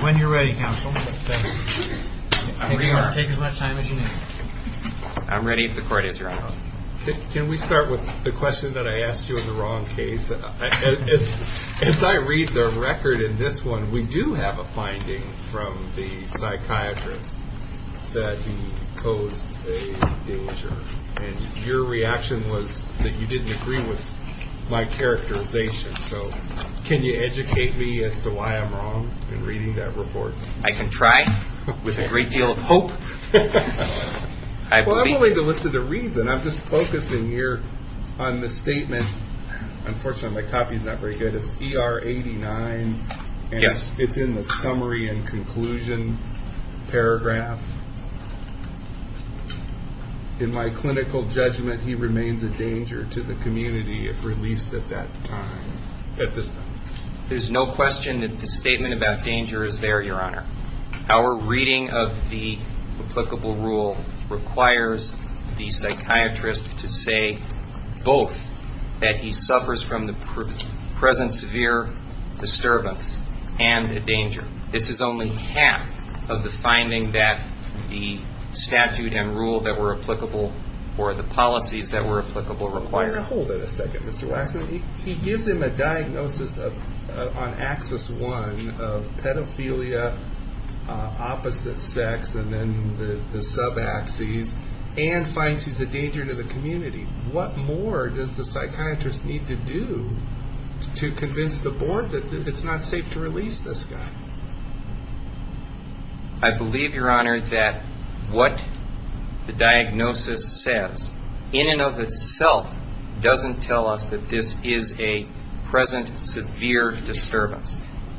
When you're ready, counsel. Take as much time as you need. I'm ready if the court is your call. Can we start with the question that I asked you of the wrong case? As I read the record in this one, we do have a finding from the psychiatrist that he posed a danger. And your reaction was that you didn't agree with my characterization. So can you educate me as to why I'm wrong in reading that report? I can try, with a great deal of hope. Well, I won't read the list of the reasons. I'm just focusing here on the statement. Unfortunately, my copy is not very good. It's ER 89, and it's in the summary and conclusion paragraph. In my clinical judgment, he remains a danger to the community if released at this time. There's no question that the statement about danger is there, Your Honor. Our reading of the applicable rule requires the psychiatrist to say both, that he suffers from the present severe disturbance and a danger. This is only half of the finding that the statute and rule that were applicable or the policies that were applicable require. Hold it a second, Mr. Waxman. He gives him a diagnosis on axis one of pedophilia, opposite sex, and then the sub-axes, and finds he's a danger to the community. What more does the psychiatrist need to do to convince the board that it's not safe to release this guy? I believe, Your Honor, that what the diagnosis says, in and of itself, doesn't tell us that this is a present severe disturbance.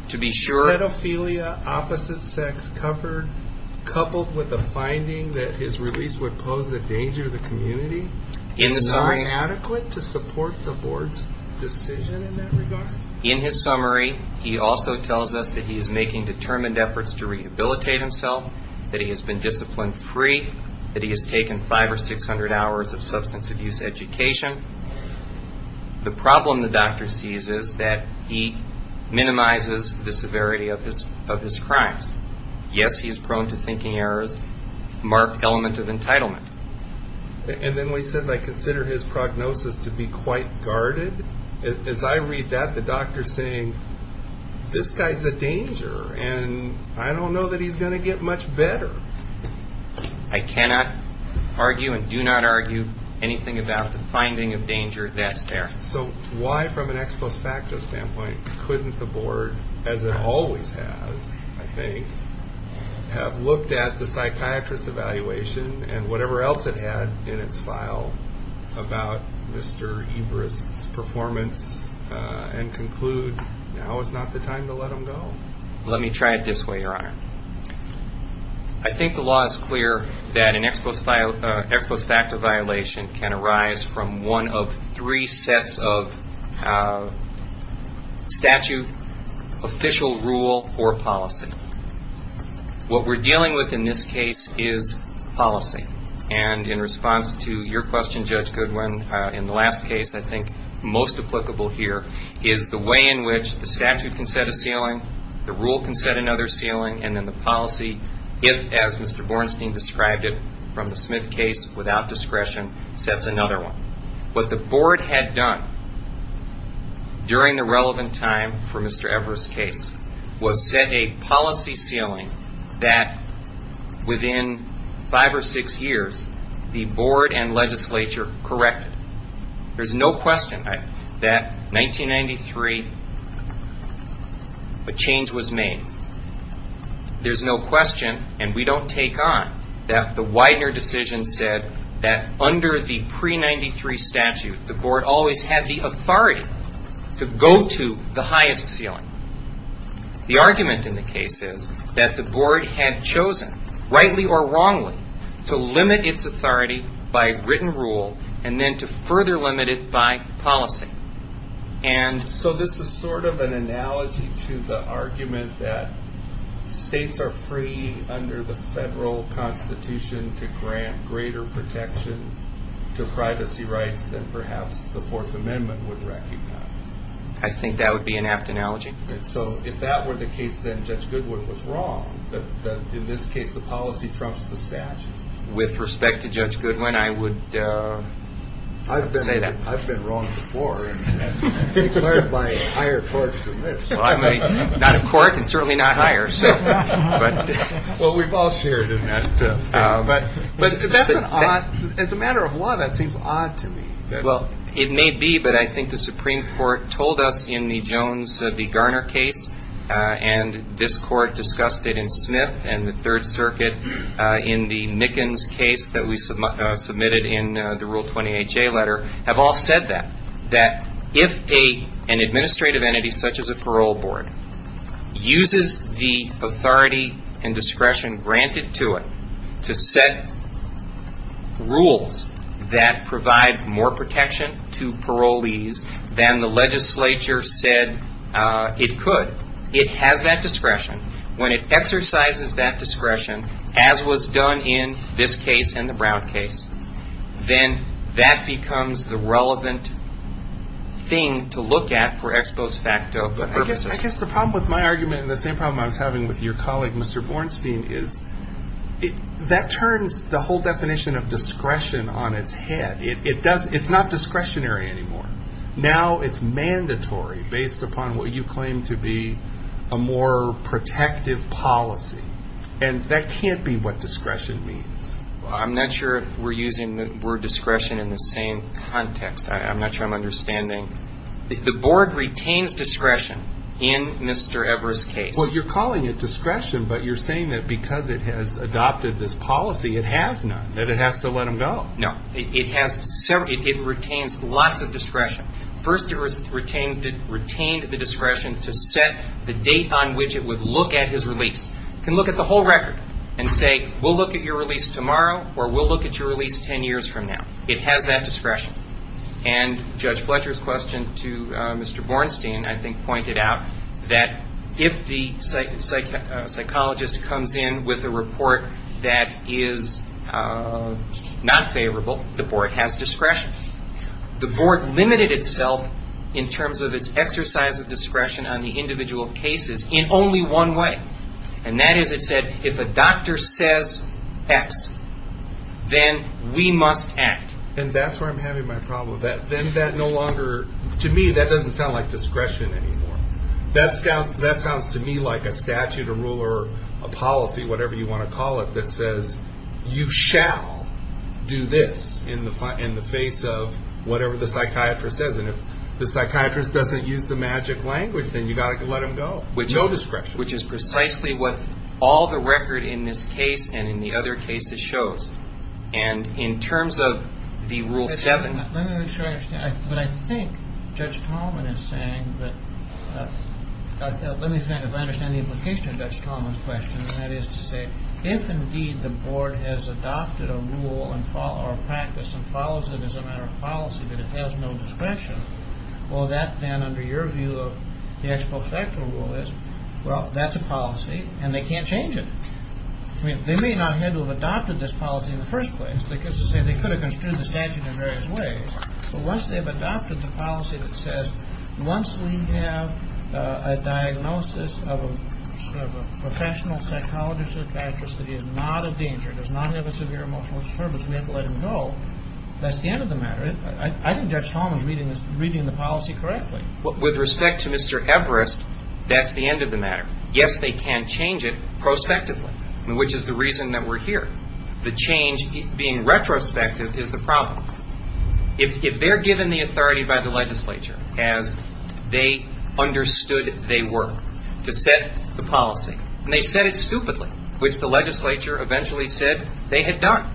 To be sure. Pedophilia, opposite sex, coupled with a finding that his release would pose a danger to the community? Is it not adequate to support the board's decision in that regard? In his summary, he also tells us that he is making determined efforts to rehabilitate himself, that he has been disciplined free, that he has taken five or six hundred hours of substance abuse education. The problem the doctor sees is that he minimizes the severity of his crimes. Yes, he is prone to thinking errors, marked element of entitlement. And then when he says, I consider his prognosis to be quite guarded, as I read that, the doctor's saying, this guy's a danger, and I don't know that he's going to get much better. I cannot argue and do not argue anything about the finding of danger that's there. So why, from an ex post facto standpoint, couldn't the board, as it always has, I think, have looked at the psychiatrist evaluation and whatever else it had in its file about Mr. Everest's performance and conclude now is not the time to let him go? Let me try it this way, Your Honor. I think the law is clear that an ex post facto violation can arise from one of three sets of statute, official rule, or policy. What we're dealing with in this case is policy. And in response to your question, Judge Goodwin, in the last case, I think most applicable here, is the way in which the statute can set a ceiling, the rule can set another ceiling, and then the policy, as Mr. Bornstein described it from the Smith case, without discretion, sets another one. What the board had done during the relevant time for Mr. Everest's case was set a policy ceiling that within five or six years, the board and legislature corrected. There's no question that 1993, a change was made. There's no question, and we don't take on, that the Widener decision said that under the pre-'93 statute, the board always had the authority to go to the highest ceiling. The argument in the case is that the board had chosen, rightly or wrongly, to limit its authority by written rule and then to further limit it by policy. So this is sort of an analogy to the argument that states are free under the federal constitution to grant greater protection to privacy rights than perhaps the Fourth Amendment would recognize. I think that would be an apt analogy. So if that were the case, then Judge Goodwin was wrong, that in this case the policy trumps the statute? With respect to Judge Goodwin, I would say that. I've been wrong before and declared by a higher court than this. Well, I'm not a court and certainly not higher. Well, we've all shared in that. But as a matter of law, that seems odd to me. Well, it may be, but I think the Supreme Court told us in the Jones v. Garner case, and this court discussed it in Smith and the Third Circuit in the Mickens case that we submitted in the Rule 20HA letter, have all said that, that if an administrative entity such as a parole board uses the authority and discretion granted to it to set rules that provide more protection to parolees than the legislature said it could, it has that discretion. When it exercises that discretion, as was done in this case and the Brown case, then that becomes the relevant thing to look at for ex post facto purposes. I guess the problem with my argument and the same problem I was having with your colleague, Mr. Bornstein, is that turns the whole definition of discretion on its head. It's not discretionary anymore. Now it's mandatory based upon what you claim to be a more protective policy. And that can't be what discretion means. I'm not sure if we're using the word discretion in the same context. I'm not sure I'm understanding. The board retains discretion in Mr. Everett's case. Well, you're calling it discretion, but you're saying that because it has adopted this policy, it has none, that it has to let him go. No. It has several. It retains lots of discretion. First, it retained the discretion to set the date on which it would look at his release. It can look at the whole record and say, we'll look at your release tomorrow or we'll look at your release ten years from now. It has that discretion. And Judge Fletcher's question to Mr. Bornstein I think pointed out that if the psychologist comes in with a report that is not favorable, the board has discretion. The board limited itself in terms of its exercise of discretion on the individual cases in only one way. And that is, it said, if a doctor says X, then we must act. And that's where I'm having my problem. Then that no longer, to me, that doesn't sound like discretion anymore. That sounds to me like a statute, a rule, or a policy, whatever you want to call it, that says you shall do this in the face of whatever the psychiatrist says. And if the psychiatrist doesn't use the magic language, then you've got to let him go. No discretion. Which is precisely what all the record in this case and in the other cases shows. And in terms of the Rule 7. Let me make sure I understand. But I think Judge Tallman is saying that, let me think if I understand the implication of Judge Tallman's question. And that is to say, if indeed the board has adopted a rule or a practice and follows it as a matter of policy, but it has no discretion, well, that then under your view of the ex post facto rule is, well, that's a policy and they can't change it. I mean, they may not have had to have adopted this policy in the first place, because they could have construed the statute in various ways. But once they've adopted the policy that says once we have a diagnosis of a professional psychologist or psychiatrist that is not a danger, does not have a severe emotional disturbance, we have to let him go, that's the end of the matter. I think Judge Tallman is reading the policy correctly. With respect to Mr. Everest, that's the end of the matter. Yes, they can change it prospectively, which is the reason that we're here. The change being retrospective is the problem. If they're given the authority by the legislature as they understood they were to set the policy, and they set it stupidly, which the legislature eventually said they had done,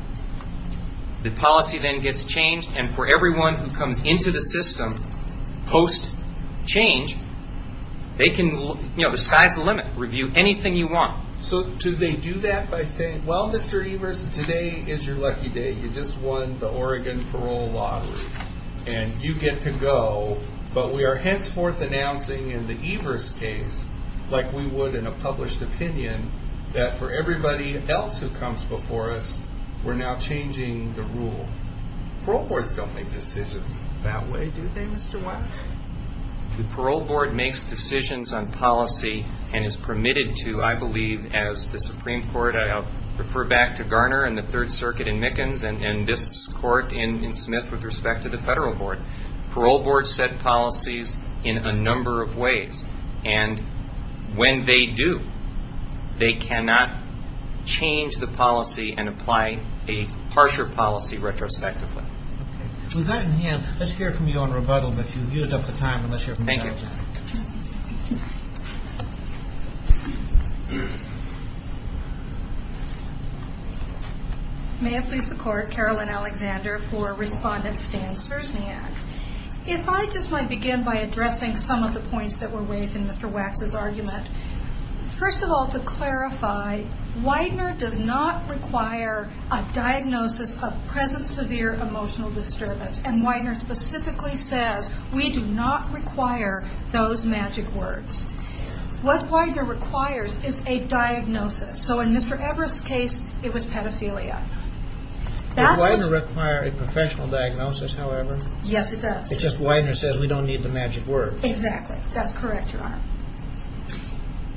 the policy then gets changed. And for everyone who comes into the system post change, they can, you know, the sky's the limit. Review anything you want. So do they do that by saying, well, Mr. Everest, today is your lucky day. You just won the Oregon parole lottery and you get to go. But we are henceforth announcing in the Everest case, like we would in a published opinion, that for everybody else who comes before us, we're now changing the rule. Parole boards don't make decisions that way, do they, Mr. Watt? The parole board makes decisions on policy and is permitted to, I believe, as the Supreme Court, I'll refer back to Garner and the Third Circuit in Mickens and this court in Smith with respect to the federal board. Parole boards set policies in a number of ways. And when they do, they cannot change the policy and apply a harsher policy retrospectively. We've got a hand. Let's hear from you on rebuttal that you've used up the time. Thank you. May it please the Court, Carolyn Alexander for Respondent Stan Sersniak. If I just might begin by addressing some of the points that were raised in Mr. Wax's argument. First of all, to clarify, Widener does not require a diagnosis of present severe emotional disturbance. And Widener specifically says, we do not require those magic words. What Widener requires is a diagnosis. So in Mr. Everest's case, it was pedophilia. Does Widener require a professional diagnosis, however? Yes, it does. It's just Widener says we don't need the magic words. Exactly. That's correct, Your Honor.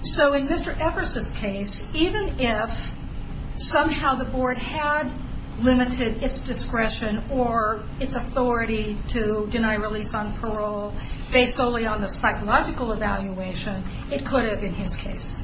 So in Mr. Everest's case, even if somehow the board had limited its discretion or its authority to deny release on parole, based solely on the psychological evaluation, it could have been his case.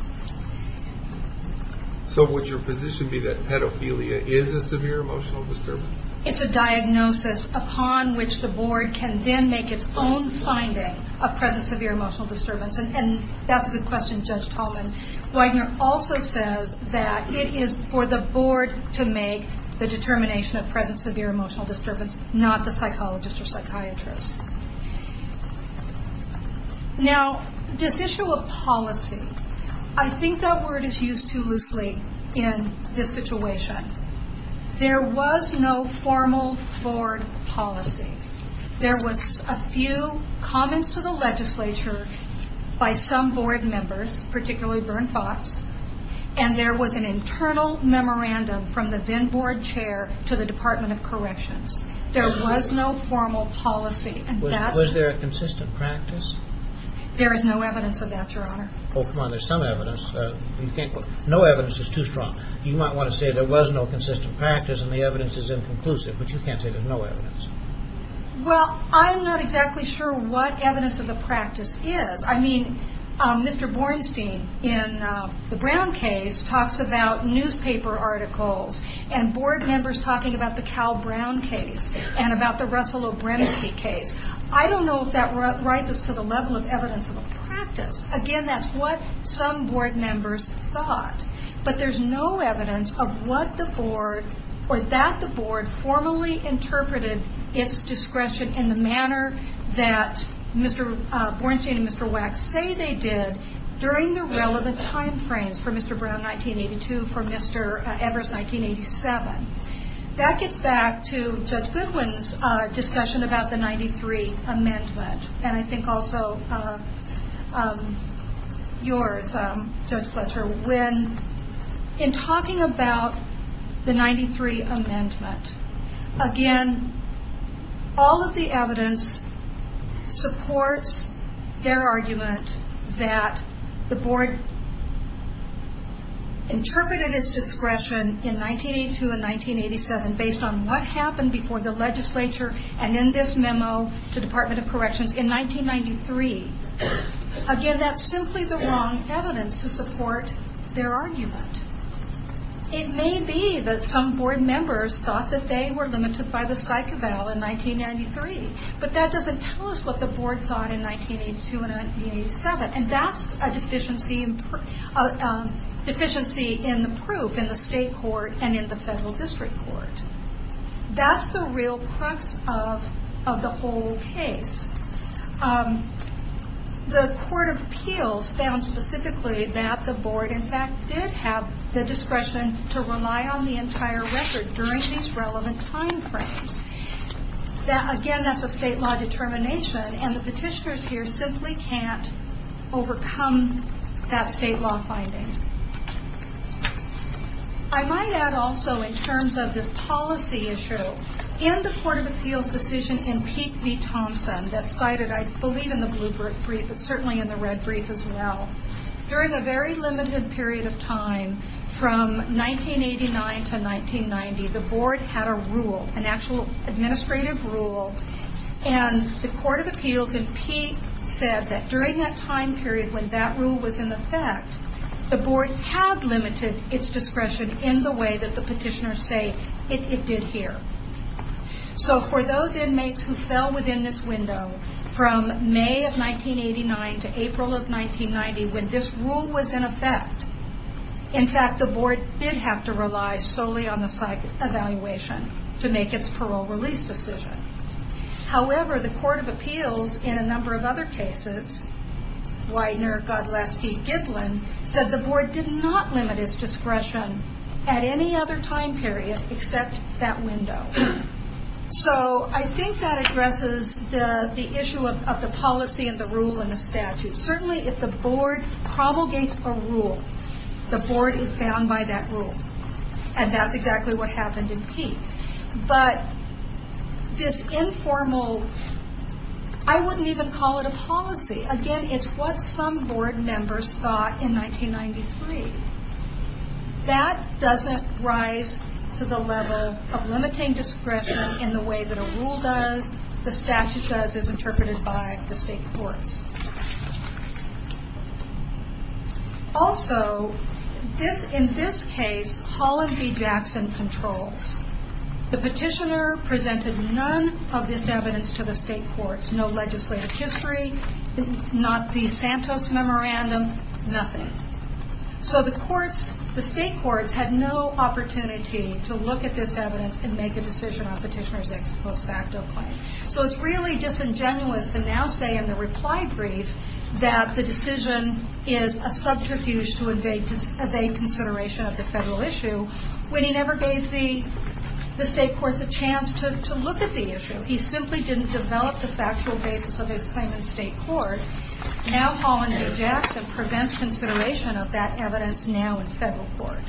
So would your position be that pedophilia is a severe emotional disturbance? It's a diagnosis upon which the board can then make its own finding of present severe emotional disturbance. And that's a good question, Judge Tallman. Widener also says that it is for the board to make the determination of present severe emotional disturbance, not the psychologist or psychiatrist. Now, this issue of policy, I think that word is used too loosely in this situation. There was no formal board policy. There was a few comments to the legislature by some board members, particularly Vern Fox, and there was an internal memorandum from the then board chair to the Department of Corrections. There was no formal policy. Was there a consistent practice? There is no evidence of that, Your Honor. Oh, come on, there's some evidence. No evidence is too strong. You might want to say there was no consistent practice and the evidence is inconclusive, but you can't say there's no evidence. Well, I'm not exactly sure what evidence of the practice is. I mean, Mr. Bornstein in the Brown case talks about newspaper articles and board members talking about the Cal Brown case and about the Russell O'Briensky case. I don't know if that rises to the level of evidence of a practice. Again, that's what some board members thought, but there's no evidence of what the board or that the board formally interpreted its discretion in the manner that Mr. Bornstein and Mr. Wax say they did during the relevant time frames for Mr. Brown, 1982, for Mr. Evers, 1987. That gets back to Judge Goodwin's discussion about the 93 amendment and I think also yours, Judge Fletcher. When in talking about the 93 amendment, again, all of the evidence supports their argument that the board interpreted its discretion in 1982 and 1987 based on what happened before the legislature and in this memo to the Department of Corrections in 1993. Again, that's simply the wrong evidence to support their argument. It may be that some board members thought that they were limited by the psych eval in 1993, but that doesn't tell us what the board thought in 1982 and 1987 and that's a deficiency in the proof in the state court and in the federal district court. That's the real crux of the whole case. The Court of Appeals found specifically that the board, in fact, did have the discretion to rely on the entire record during these relevant time frames. Again, that's a state law determination and the petitioners here simply can't overcome that state law finding. I might add also, in terms of this policy issue, in the Court of Appeals decision in Peek v. Thompson that's cited, I believe, in the blue brief, but certainly in the red brief as well, during a very limited period of time from 1989 to 1990, the board had a rule, an actual administrative rule, and the Court of Appeals in Peek said that during that time period when that rule was in effect, the board had limited its discretion in the way that the petitioners say it did here. For those inmates who fell within this window from May of 1989 to April of 1990 when this rule was in effect, in fact, the board did have to rely solely on the psych evaluation to make its parole release decision. However, the Court of Appeals in a number of other cases, Widener, God bless Pete Giblin, said the board did not limit its discretion at any other time period except that window. I think that addresses the issue of the policy and the rule and the statute. Certainly, if the board provocates a rule, the board is bound by that rule, and that's exactly what happened in Peek. But this informal, I wouldn't even call it a policy. Again, it's what some board members thought in 1993. That doesn't rise to the level of limiting discretion in the way that a rule does, the statute does as interpreted by the state courts. Also, in this case, Holland v. Jackson controls. The petitioner presented none of this evidence to the state courts. No legislative history, not the Santos Memorandum, nothing. So the state courts had no opportunity to look at this evidence and make a decision on petitioner's ex post facto claim. So it's really disingenuous to now say in the reply brief that the decision is a subterfuge to evade consideration of the federal issue when he never gave the state courts a chance to look at the issue. He simply didn't develop the factual basis of his claim in state court. Now Holland v. Jackson prevents consideration of that evidence now in federal court.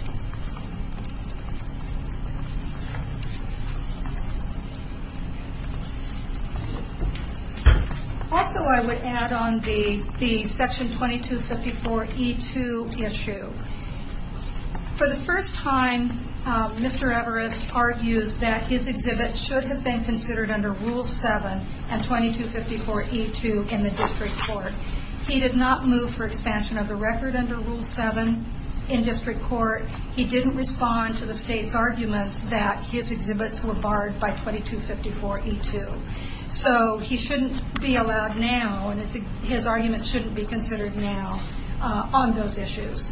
Also, I would add on the section 2254E2 issue. For the first time, Mr. Everest argues that his exhibit should have been considered under Rule 7 and 2254E2 in the district court. He did not move for expansion of the record under Rule 7 in district court. He didn't respond to the state's arguments that his exhibits were barred by 2254E2. So he shouldn't be allowed now, and his argument shouldn't be considered now on those issues.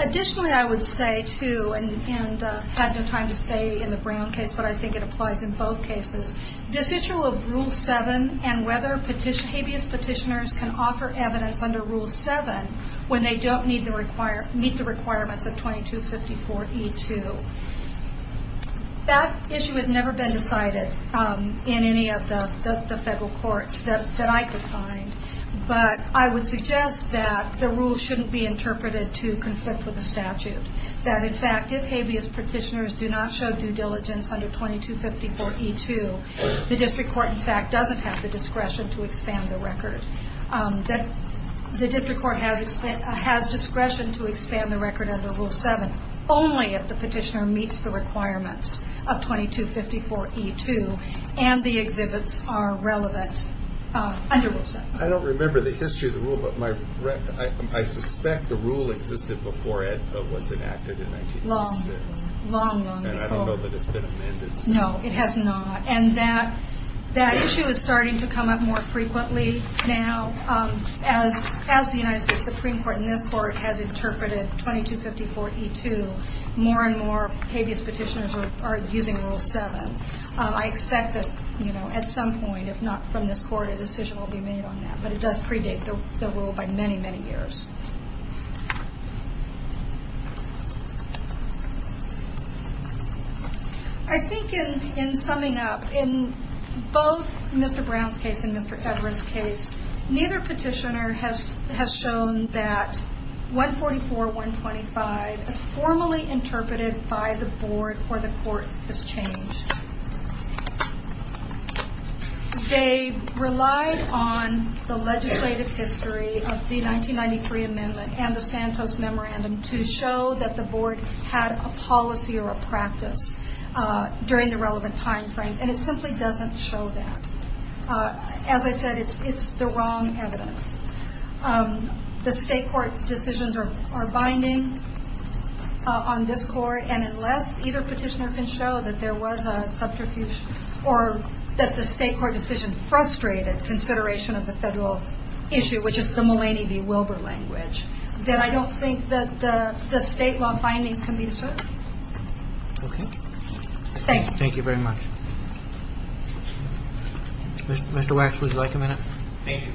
Additionally, I would say too, and I had no time to say in the Brown case, but I think it applies in both cases. This issue of Rule 7 and whether habeas petitioners can offer evidence under Rule 7 when they don't meet the requirements of 2254E2. That issue has never been decided in any of the federal courts that I could find, but I would suggest that the rule shouldn't be interpreted to conflict with the statute. That, in fact, if habeas petitioners do not show due diligence under 2254E2, the district court, in fact, doesn't have the discretion to expand the record. The district court has discretion to expand the record under Rule 7 only if the petitioner meets the requirements of 2254E2 and the exhibits are relevant under Rule 7. I don't remember the history of the rule, but I suspect the rule existed before it was enacted in 1986. Long, long, long before. And I don't know that it's been amended since then. No, it has not, and that issue is starting to come up more frequently now. As the United States Supreme Court in this court has interpreted 2254E2, more and more habeas petitioners are using Rule 7. I expect that at some point, if not from this court, a decision will be made on that, but it does predate the rule by many, many years. I think in summing up, in both Mr. Brown's case and Mr. Edwards' case, neither petitioner has shown that 144125 is formally interpreted by the board or the courts as changed. They relied on the legislative history of the 1993 amendment and the Santos Memorandum to show that the board had a policy or a practice during the relevant time frames, and it simply doesn't show that. As I said, it's the wrong evidence. The state court decisions are binding on this court, and unless either petitioner can show that there was a subterfuge or that the state court decision frustrated consideration of the federal issue, which is the Mulaney v. Wilbur language, then I don't think that the state law findings can be discerned. Okay. Thank you. Thank you very much. Mr. Wax, would you like a minute? Thank you.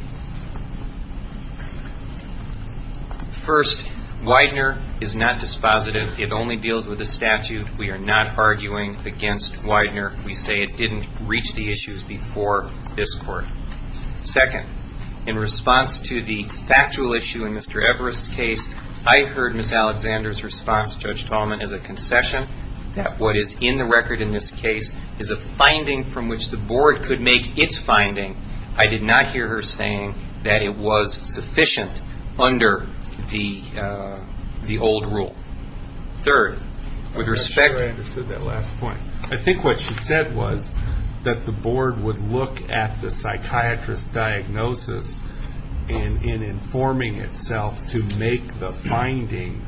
First, Widener is not dispositive. It only deals with the statute. We are not arguing against Widener. We say it didn't reach the issues before this court. Second, in response to the factual issue in Mr. Evers' case, I heard Ms. Alexander's response, Judge Tallman, as a concession, that what is in the record in this case is a finding from which the board could make its finding. I did not hear her saying that it was sufficient under the old rule. Third, with respect to the last point, I think what she said was that the board would look at the psychiatrist's diagnosis in informing itself to make the finding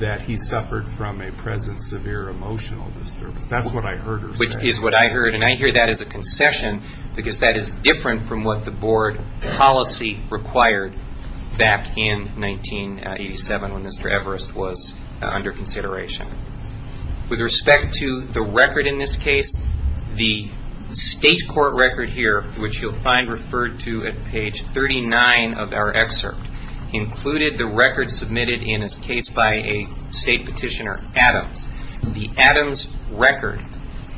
that he suffered from a present severe emotional disturbance. That's what I heard her say. Which is what I heard, and I hear that as a concession because that is different from what the board policy required back in 1987 when Mr. Evers was under consideration. With respect to the record in this case, the state court record here, which you'll find referred to at page 39 of our excerpt, included the record submitted in a case by a state petitioner, Adams. The Adams record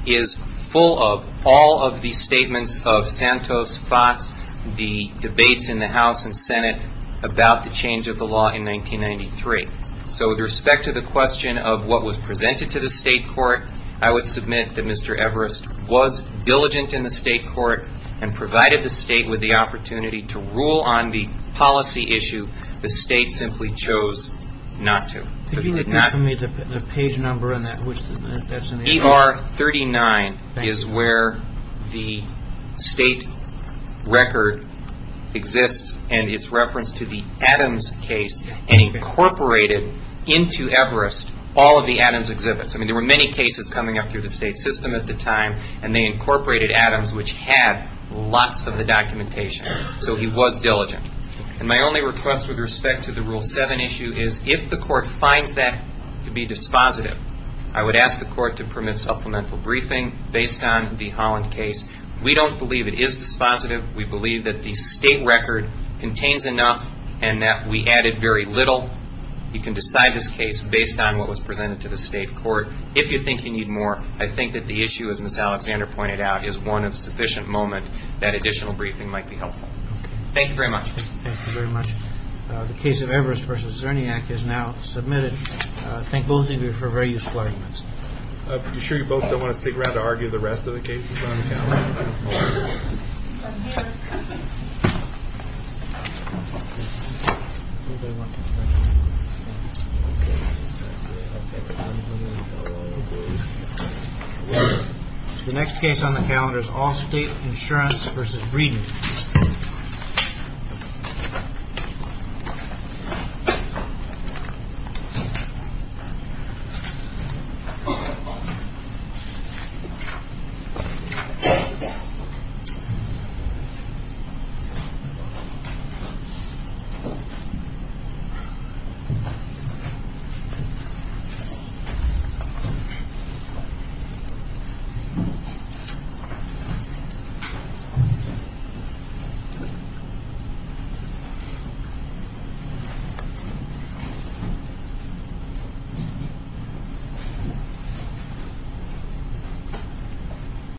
is full of all of the statements of Santos, Fox, the debates in the House and Senate about the change of the law in 1993. So with respect to the question of what was presented to the state court, I would submit that Mr. Evers was diligent in the state court and provided the state with the opportunity to rule on the policy issue the state simply chose not to. Could you give me the page number on that? ER 39 is where the state record exists, and it's referenced to the Adams case and incorporated into Everest all of the Adams exhibits. I mean, there were many cases coming up through the state system at the time, and they incorporated Adams, which had lots of the documentation. So he was diligent. And my only request with respect to the Rule 7 issue is if the court finds that to be dispositive, I would ask the court to permit supplemental briefing based on the Holland case. We don't believe it is dispositive. We believe that the state record contains enough and that we added very little. You can decide this case based on what was presented to the state court. If you think you need more, I think that the issue, as Ms. Alexander pointed out, is one of sufficient moment that additional briefing might be helpful. Okay. Thank you very much. Thank you very much. The case of Everest v. Zerniak is now submitted. Thank both of you for very useful arguments. I'm sure you both don't want to stick around to argue the rest of the cases on the calendar. The next case on the calendar is Allstate Insurance v. Breeden. Thank you.